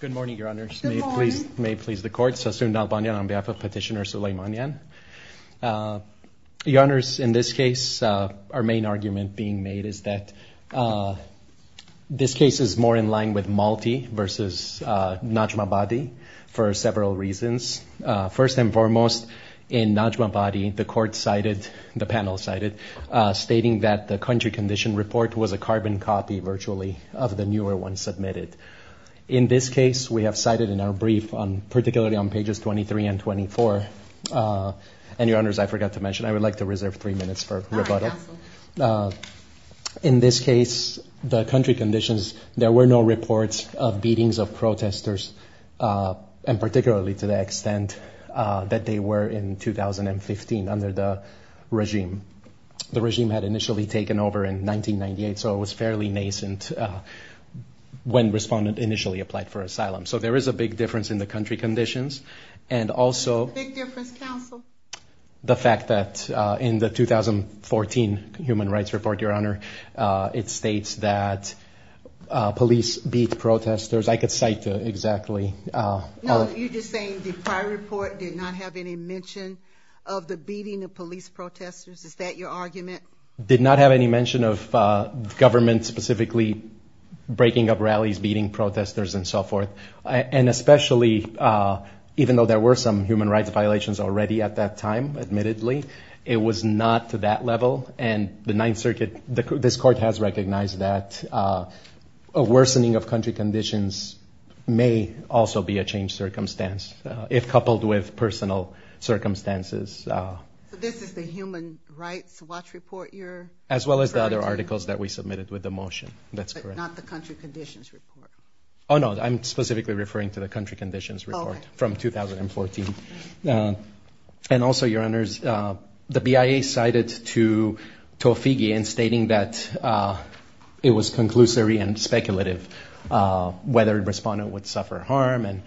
Good morning, Your Honours. May it please the Court, Sassoon Dalbanyan on behalf of Petitioner Suleymanyan. Your Honours, in this case, our main argument being made is that this case is more in line with Malti versus Najmabadi for several reasons. First and foremost, in Najmabadi, the Court cited, the panel cited, stating that the country condition report was a carbon copy virtually of the newer one submitted. In this case, we have cited in our brief, particularly on pages 23 and 24, and Your Honours, I forgot to mention, I would like to reserve three minutes for rebuttal. In this case, the country conditions, there were no reports of beatings of protesters, and particularly to the extent that they were in 2015 under the regime. The regime had initially taken over in 1998, so it was fairly nascent when respondents initially applied for asylum. So there is a big difference in the country conditions, and also the fact that in the 2014 human rights report, Your Honour, it states that police beat protesters. I could cite exactly. No, you're just saying the prior report did not have any mention of the beating of police protesters. Is that your argument? Did not have any mention of government specifically breaking up rallies, beating protesters, and so forth. And especially, even though there were some human rights violations already at that time, admittedly, it was not to that level. And the Ninth Circuit, this Court has recognized that a worsening of country conditions may also be a changed circumstance, if coupled with personal circumstances. So this is the human rights watch report you're referring to? As well as the other articles that we submitted with the motion. That's correct. But not the country conditions report? Oh, no, I'm specifically referring to the country conditions report from 2014. And also, Your Honours, the BIA cited to Tofighi in stating that it was conclusory and speculative, whether a respondent would suffer harm and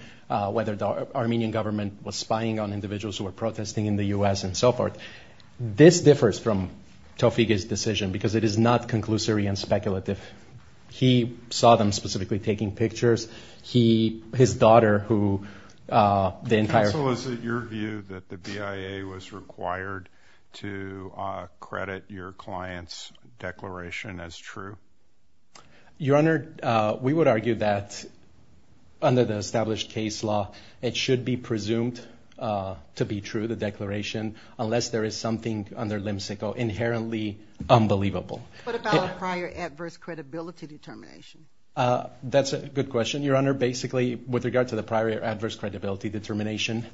whether the Armenian government was spying on individuals who were protesting in the U.S. and so forth. This differs from Tofighi's decision, because it is not conclusory and speculative. He saw them specifically taking pictures. His daughter, who the entire… Counsel, is it your view that the BIA was required to credit your client's declaration as true? Your Honour, we would argue that, under the established case law, it should be presumed to be true, the declaration, unless there is something under limsicle inherently unbelievable. What about a prior adverse credibility determination? That's a good question, Your Honour. Basically, with regard to the prior adverse credibility determination,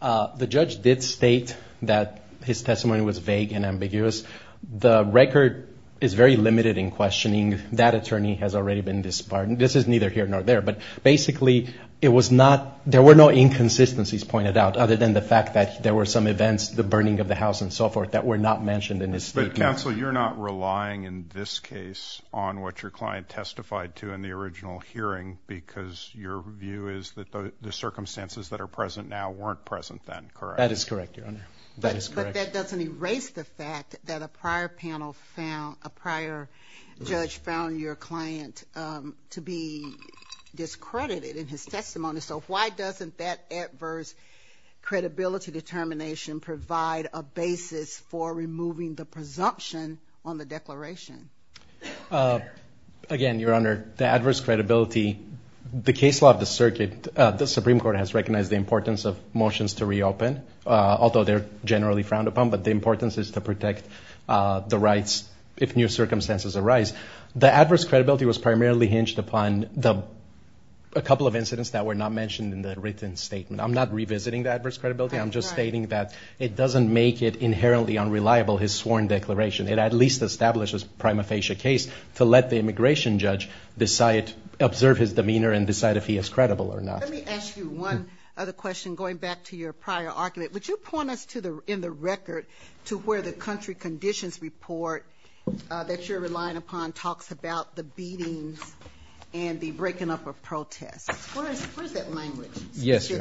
the judge did state that his testimony was vague and ambiguous. The record is very limited in questioning. That attorney has already been disbarred. This is neither here nor there. But basically, it was not… There were no inconsistencies pointed out, other than the fact that there were some events, the burning of the house and so forth, that were not mentioned in his statement. Counsel, you're not relying, in this case, on what your client testified to in the original hearing, because your view is that the circumstances that are present now weren't present then, correct? That is correct, Your Honour. That is correct. But that doesn't erase the fact that a prior panel found… A prior judge found your client to be discredited in his testimony. So why doesn't that adverse credibility determination provide a basis for removing the presumption on the declaration? Again, Your Honour, the adverse credibility… The case law of the circuit, the Supreme Court has recognized the importance of motions to reopen, although they're generally frowned upon. But the importance is to protect the rights if new circumstances arise. The adverse credibility was primarily hinged upon a couple of incidents that were not mentioned in the written statement. I'm not revisiting the adverse credibility. I'm just stating that it doesn't make it inherently unreliable, his sworn declaration. It at least establishes prima facie case to let the immigration judge observe his demeanor and decide if he is credible or not. Let me ask you one other question, going back to your prior argument. Would you point us in the record to where the country conditions report that you're relying upon talks about the beatings and the breaking up of protests? Where is that language specifically? Yes, Your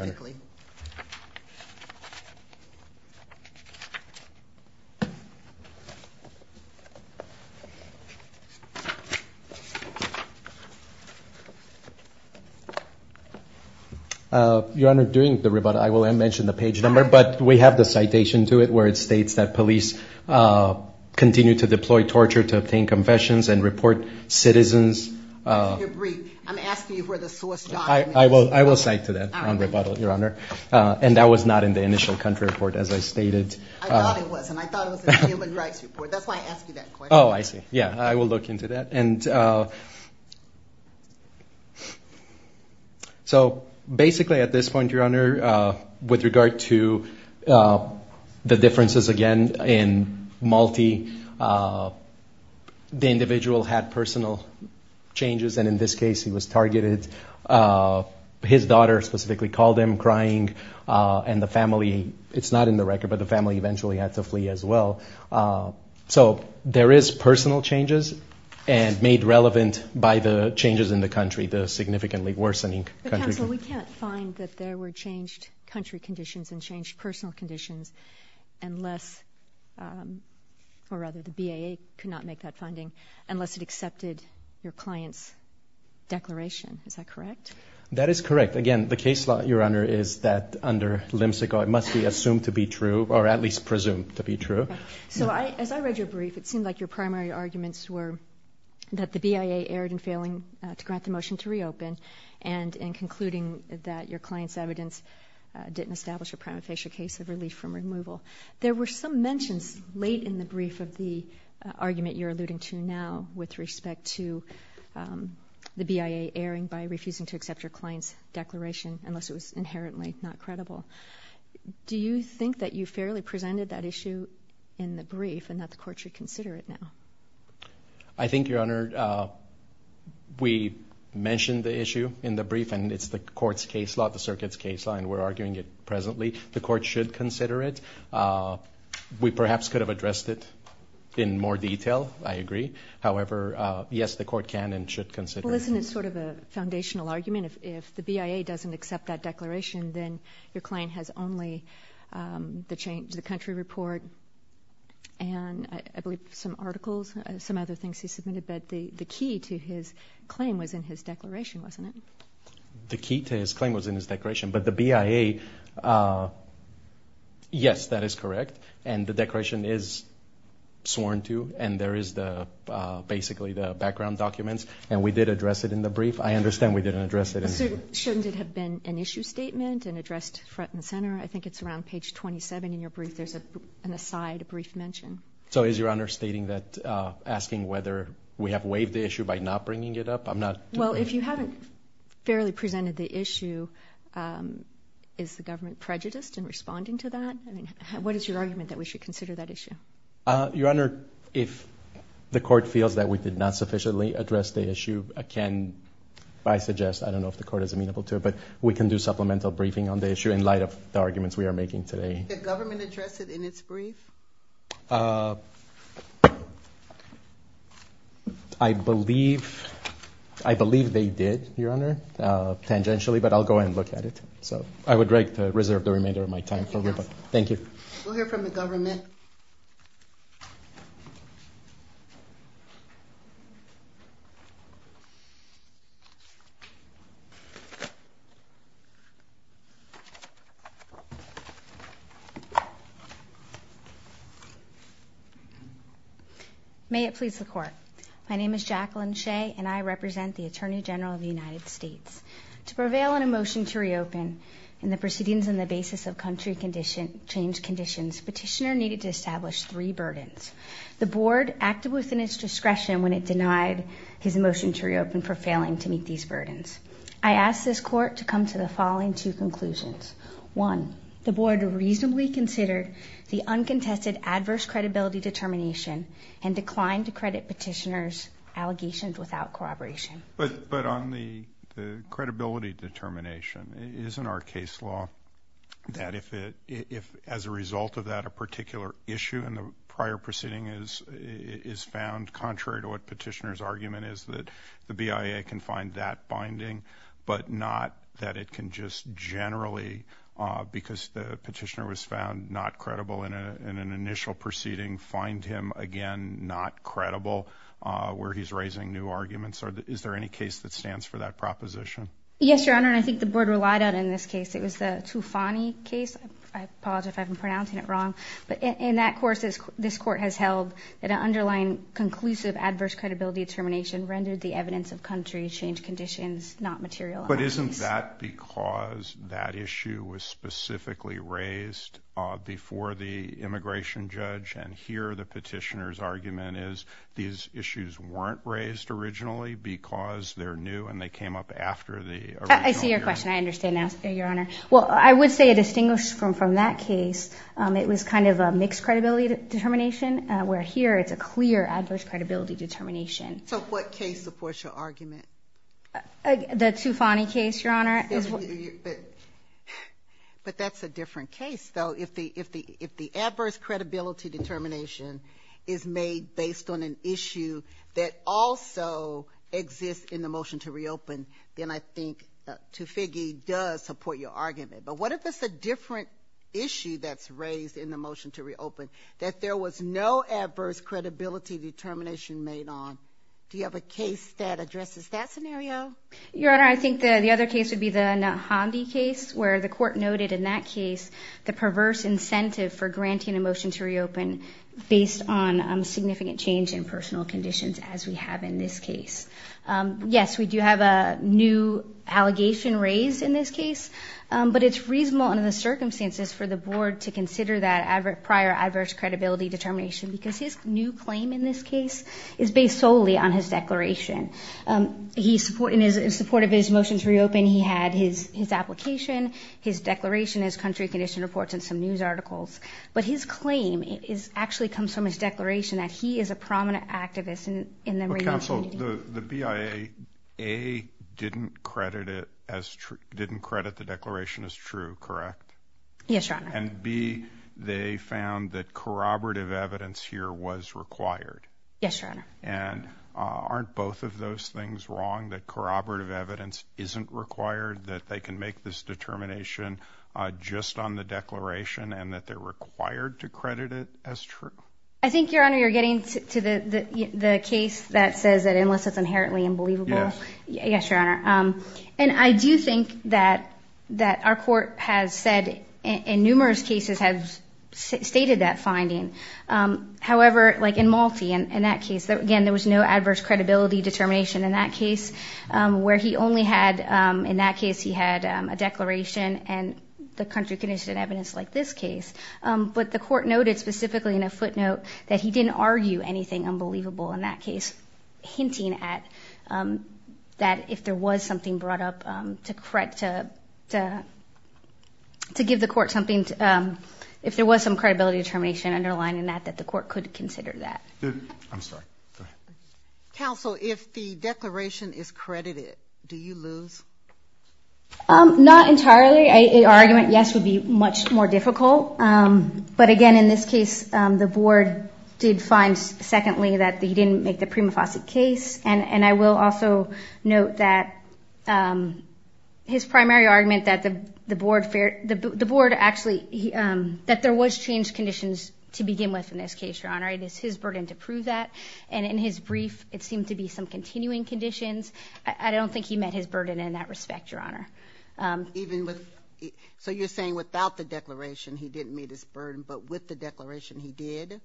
Honour. Your Honour, during the rebuttal, I will mention the page number, but we have the citation to it where it states that police continue to deploy torture to obtain confessions and report citizens… I'm asking you where the source document is. I will cite to that on rebuttal, Your Honour. And that was not in the initial country report, as I stated. I thought it was, and I thought it was in the human rights report. That's why I asked you that question. Oh, I see. Yeah, I will look into that. So basically at this point, Your Honour, with regard to the differences again in Malti, the individual had personal changes. And in this case, he was targeted. His daughter specifically called him crying, and the family, it's not in the record, but the family eventually had to flee as well. So there is personal changes and made relevant by the changes in the country, the significantly worsening country. So we can't find that there were changed country conditions and changed personal conditions unless, or rather the BIA could not make that finding, unless it accepted your client's declaration. Is that correct? That is correct. Again, the case law, Your Honour, is that under Limsical, it must be assumed to be true or at least presumed to be true. So as I read your brief, it seemed like your primary arguments were that the BIA erred in failing to grant the motion to reopen, and in concluding that your client's evidence didn't establish a prima facie case of relief from removal. There were some mentions late in the brief of the argument you're alluding to now with respect to the BIA erring by refusing to accept your client's declaration, unless it was inherently not credible. Do you think that you fairly presented that issue in the brief and that the court should consider it now? I think, Your Honour, we mentioned the issue in the brief, and it's the court's case law, the circuit's case law, and we're arguing it presently. The court should consider it. We perhaps could have addressed it in more detail. I agree. However, yes, the court can and should consider it. Well, isn't it sort of a foundational argument? If the BIA doesn't accept that declaration, then your client has only the change to the country report and I believe some articles, some other things he submitted, but the key to his claim was in his declaration, wasn't it? The key to his claim was in his declaration, but the BIA, yes, that is correct, and the declaration is sworn to, and there is basically the background documents, and we did address it in the brief. I understand we didn't address it in the brief. Shouldn't it have been an issue statement and addressed front and center? I think it's around page 27 in your brief. There's an aside, a brief mention. So is Your Honour stating that, asking whether we have waived the issue by not bringing it up? Well, if you haven't fairly presented the issue, is the government prejudiced in responding to that? What is your argument that we should consider that issue? Your Honour, if the court feels that we did not sufficiently address the issue, I suggest, I don't know if the court is amenable to it, but we can do supplemental briefing on the issue in light of the arguments we are making today. Did the government address it in its brief? I believe they did, Your Honour, tangentially, but I'll go ahead and look at it. So I would like to reserve the remainder of my time. Thank you. We'll hear from the government. May it please the Court. My name is Jacqueline Shea, and I represent the Attorney General of the United States. To prevail on a motion to reopen and the proceedings on the basis of country change conditions, Petitioner needed to establish three burdens. The Board acted within its discretion when it denied his motion to reopen for failing to meet these burdens. I ask this Court to come to the following two conclusions. One, the Board reasonably considered the uncontested adverse credibility determination and declined to credit Petitioner's allegations without corroboration. But on the credibility determination, isn't our case law that if, as a result of that, a particular issue in the prior proceeding is found contrary to what Petitioner's argument is, that the BIA can find that binding but not that it can just generally, because the Petitioner was found not credible in an initial proceeding, find him again not credible where he's raising new arguments? Is there any case that stands for that proposition? Yes, Your Honor, and I think the Board relied on it in this case. It was the Tufani case. I apologize if I'm pronouncing it wrong. But in that course, this Court has held that an underlying conclusive adverse credibility determination rendered the evidence of country change conditions not material. But isn't that because that issue was specifically raised before the immigration judge, and here the Petitioner's argument is these issues weren't raised originally because they're new and they came up after the original hearing? I see your question. I understand now, Your Honor. Well, I would say it distinguished from that case. It was kind of a mixed credibility determination, where here it's a clear adverse credibility determination. So what case supports your argument? The Tufani case, Your Honor. But that's a different case, though. If the adverse credibility determination is made based on an issue that also exists in the motion to reopen, then I think Tufigi does support your argument. But what if it's a different issue that's raised in the motion to reopen, that there was no adverse credibility determination made on? Do you have a case that addresses that scenario? Your Honor, I think the other case would be the Nahandi case, where the Court noted in that case the perverse incentive for granting a motion to reopen based on significant change in personal conditions, as we have in this case. Yes, we do have a new allegation raised in this case, but it's reasonable under the circumstances for the Board to consider that prior adverse credibility determination because his new claim in this case is based solely on his declaration. In support of his motion to reopen, he had his application, his declaration, his country of condition reports, and some news articles. But his claim actually comes from his declaration that he is a prominent activist in the radio community. But, Counsel, the BIA, A, didn't credit the declaration as true, correct? Yes, Your Honor. And, B, they found that corroborative evidence here was required. Yes, Your Honor. And aren't both of those things wrong, that corroborative evidence isn't required, that they can make this determination just on the declaration, and that they're required to credit it as true? I think, Your Honor, you're getting to the case that says that unless it's inherently unbelievable. Yes. Yes, Your Honor. And I do think that our court has said, in numerous cases, has stated that finding. However, like in Malti, in that case, again, there was no adverse credibility determination in that case, where he only had, in that case, he had a declaration and the country of condition evidence like this case. But the court noted specifically in a footnote that he didn't argue anything unbelievable in that case, hinting at that if there was something brought up to give the court something, if there was some credibility determination underlined in that, that the court could consider that. I'm sorry. Counsel, if the declaration is credited, do you lose? Not entirely. Our argument, yes, would be much more difficult. But, again, in this case, the board did find, secondly, that he didn't make the Prima Fosse case. And I will also note that his primary argument, that the board actually, that there was changed conditions to begin with in this case, Your Honor. It is his burden to prove that. And in his brief, it seemed to be some continuing conditions. I don't think he met his burden in that respect, Your Honor. So you're saying without the declaration he didn't meet his burden, but with the declaration he did?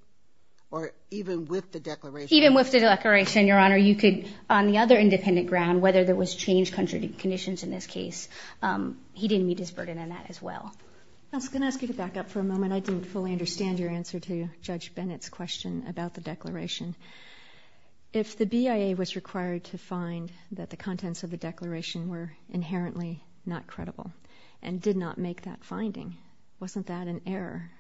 Or even with the declaration? Even with the declaration, Your Honor, you could, on the other independent ground, whether there was changed country of conditions in this case, he didn't meet his burden in that as well. I was going to ask you to back up for a moment. I didn't fully understand your answer to Judge Bennett's question about the declaration. If the BIA was required to find that the contents of the declaration were inherently not credible and did not make that finding, wasn't that an error?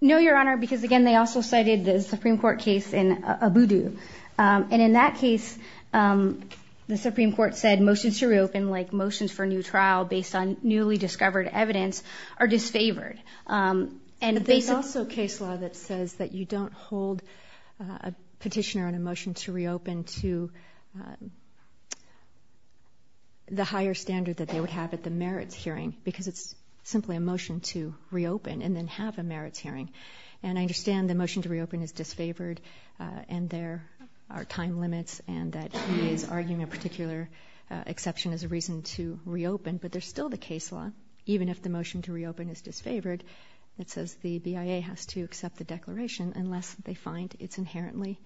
No, Your Honor, because, again, they also cited the Supreme Court case in Abudu. And in that case, the Supreme Court said motions to reopen, like motions for a new trial, based on newly discovered evidence, are disfavored. But there's also case law that says that you don't hold a petitioner on a motion to reopen to the higher standard that they would have at the merits hearing, because it's simply a motion to reopen and then have a merits hearing. And I understand the motion to reopen is disfavored and there are time limits and that he is arguing a particular exception as a reason to reopen, but there's still the case law, even if the motion to reopen is disfavored, that says the BIA has to accept the declaration unless they find it's inherently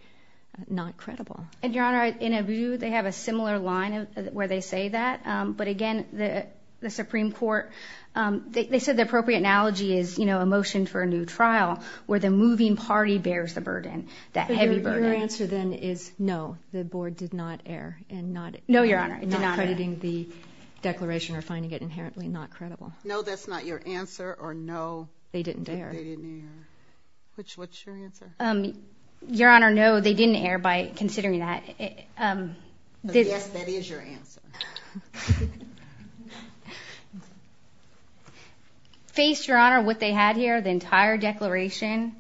not credible. And, Your Honor, in Abudu, they have a similar line where they say that. But, again, the Supreme Court, they said the appropriate analogy is, you know, a motion for a new trial where the moving party bears the burden, that heavy burden. Your answer, then, is no, the board did not err in not crediting the declaration or finding it inherently not credible. No, that's not your answer, or no, they didn't err. They didn't err. What's your answer? Your Honor, no, they didn't err by considering that. Yes, that is your answer. Faced, Your Honor, what they had here, the entire declaration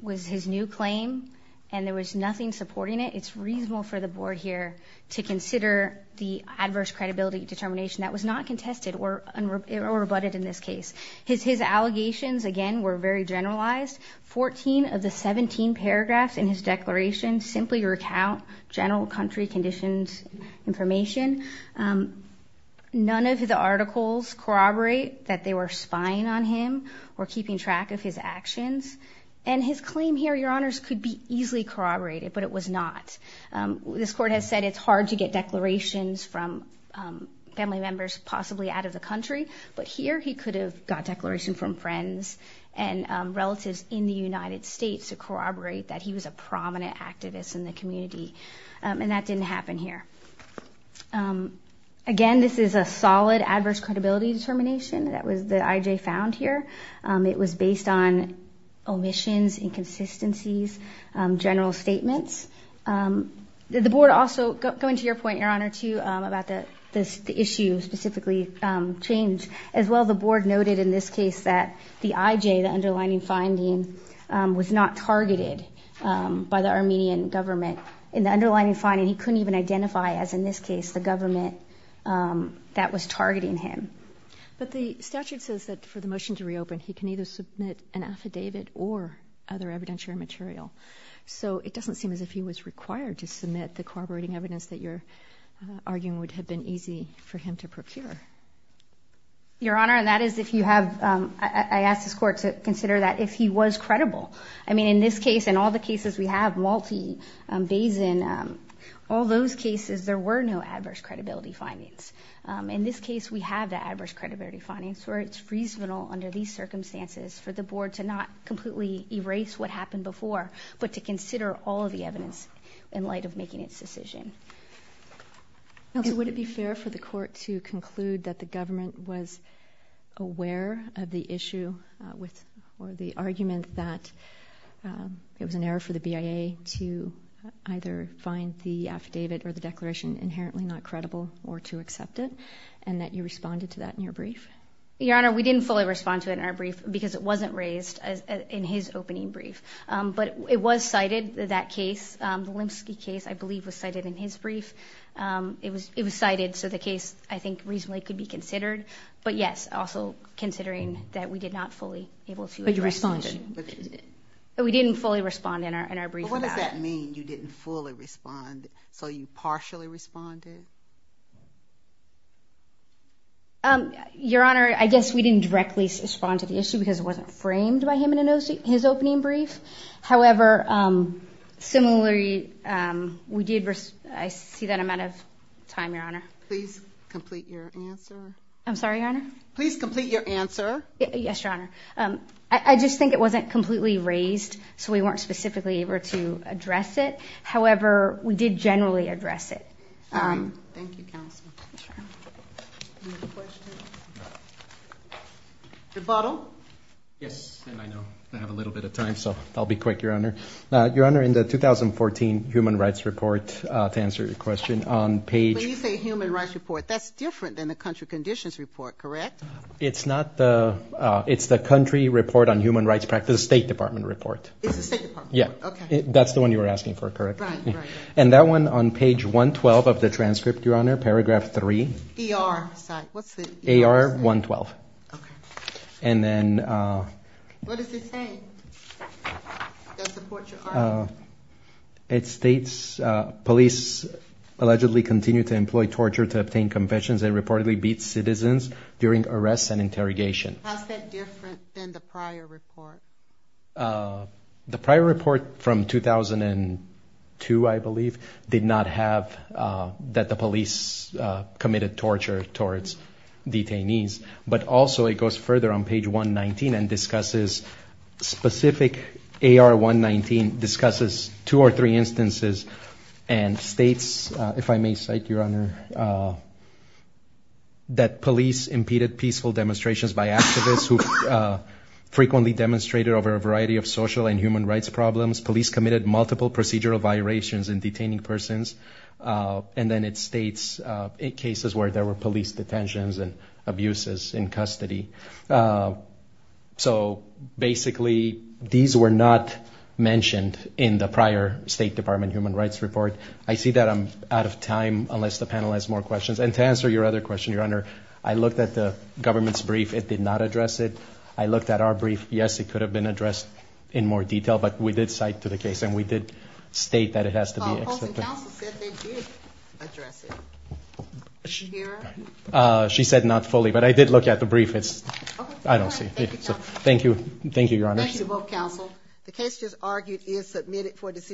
was his new claim and there was nothing supporting it. It's reasonable for the board here to consider the adverse credibility determination that was not contested or rebutted in this case. His allegations, again, were very generalized. Fourteen of the 17 paragraphs in his declaration simply recount general country conditions information. None of the articles corroborate that they were spying on him or keeping track of his actions. And his claim here, Your Honors, could be easily corroborated, but it was not. This court has said it's hard to get declarations from family members possibly out of the country, but here he could have got a declaration from friends and relatives in the United States to corroborate that he was a prominent activist in the community, and that didn't happen here. Again, this is a solid adverse credibility determination that I.J. found here. It was based on omissions, inconsistencies, general statements. The board also, going to your point, Your Honor, too, about the issue specifically changed. As well, the board noted in this case that the I.J., the underlining finding, was not targeted by the Armenian government. In the underlining finding, he couldn't even identify, as in this case, the government that was targeting him. But the statute says that for the motion to reopen, he can either submit an affidavit or other evidentiary material. So it doesn't seem as if he was required to submit the corroborating evidence that you're arguing would have been easy for him to procure. Your Honor, and that is if you have, I ask this court to consider that if he was credible. I mean, in this case and all the cases we have, Malti, Bazin, all those cases there were no adverse credibility findings. In this case, we have the adverse credibility findings where it's reasonable under these circumstances for the board to not completely erase what happened before, but to consider all of the evidence in light of making its decision. Would it be fair for the court to conclude that the government was aware of the issue or the argument that it was an error for the BIA to either find the affidavit or the declaration inherently not credible or to accept it, and that you responded to that in your brief? Your Honor, we didn't fully respond to it in our brief because it wasn't raised in his opening brief. But it was cited, that case, the Lembski case, I believe, was cited in his brief. It was cited, so the case I think reasonably could be considered. But, yes, also considering that we did not fully able to address the issue. But you responded. We didn't fully respond in our brief on that. What does that mean, you didn't fully respond? So you partially responded? Your Honor, I guess we didn't directly respond to the issue because it wasn't framed by him in his opening brief. However, similarly, I see that I'm out of time, Your Honor. Please complete your answer. I'm sorry, Your Honor? Please complete your answer. Yes, Your Honor. I just think it wasn't completely raised, so we weren't specifically able to address it. However, we did generally address it. Thank you, counsel. Rebuttal? Yes, and I know I have a little bit of time, so I'll be quick, Your Honor. Your Honor, in the 2014 Human Rights Report, to answer your question, on page When you say Human Rights Report, that's different than the Country Conditions Report, correct? It's the Country Report on Human Rights Practice State Department Report. It's the State Department Report? Yes. Okay. That's the one you were asking for, correct? Right, right. And that one on page 112 of the transcript, Your Honor, paragraph 3. ER, sorry. What's the ER? AR 112. Okay. And then What does it say? Does it support your argument? It states police allegedly continue to employ torture to obtain confessions and reportedly beat citizens during arrests and interrogation. How is that different than the prior report? The prior report from 2002, I believe, did not have that the police committed torture towards detainees. But also, it goes further on page 119 and discusses specific AR 119, discusses two or three instances and states, if I may cite, Your Honor, that police impeded peaceful demonstrations by activists who frequently demonstrated over a variety of social and human rights problems. Police committed multiple procedural violations in detaining persons. And then it states cases where there were police detentions and abuses in custody. So basically, these were not mentioned in the prior State Department Human Rights Report. I see that I'm out of time unless the panel has more questions. And to answer your other question, Your Honor, I looked at the government's brief. It did not address it. I looked at our brief. Yes, it could have been addressed in more detail, but we did cite to the case and we did state that it has to be accepted. Counsel said they did address it. Did you hear her? She said not fully, but I did look at the brief. I don't see it. Thank you, Counsel. Thank you, Your Honor. Thank you both, Counsel. The case just argued is submitted for decision.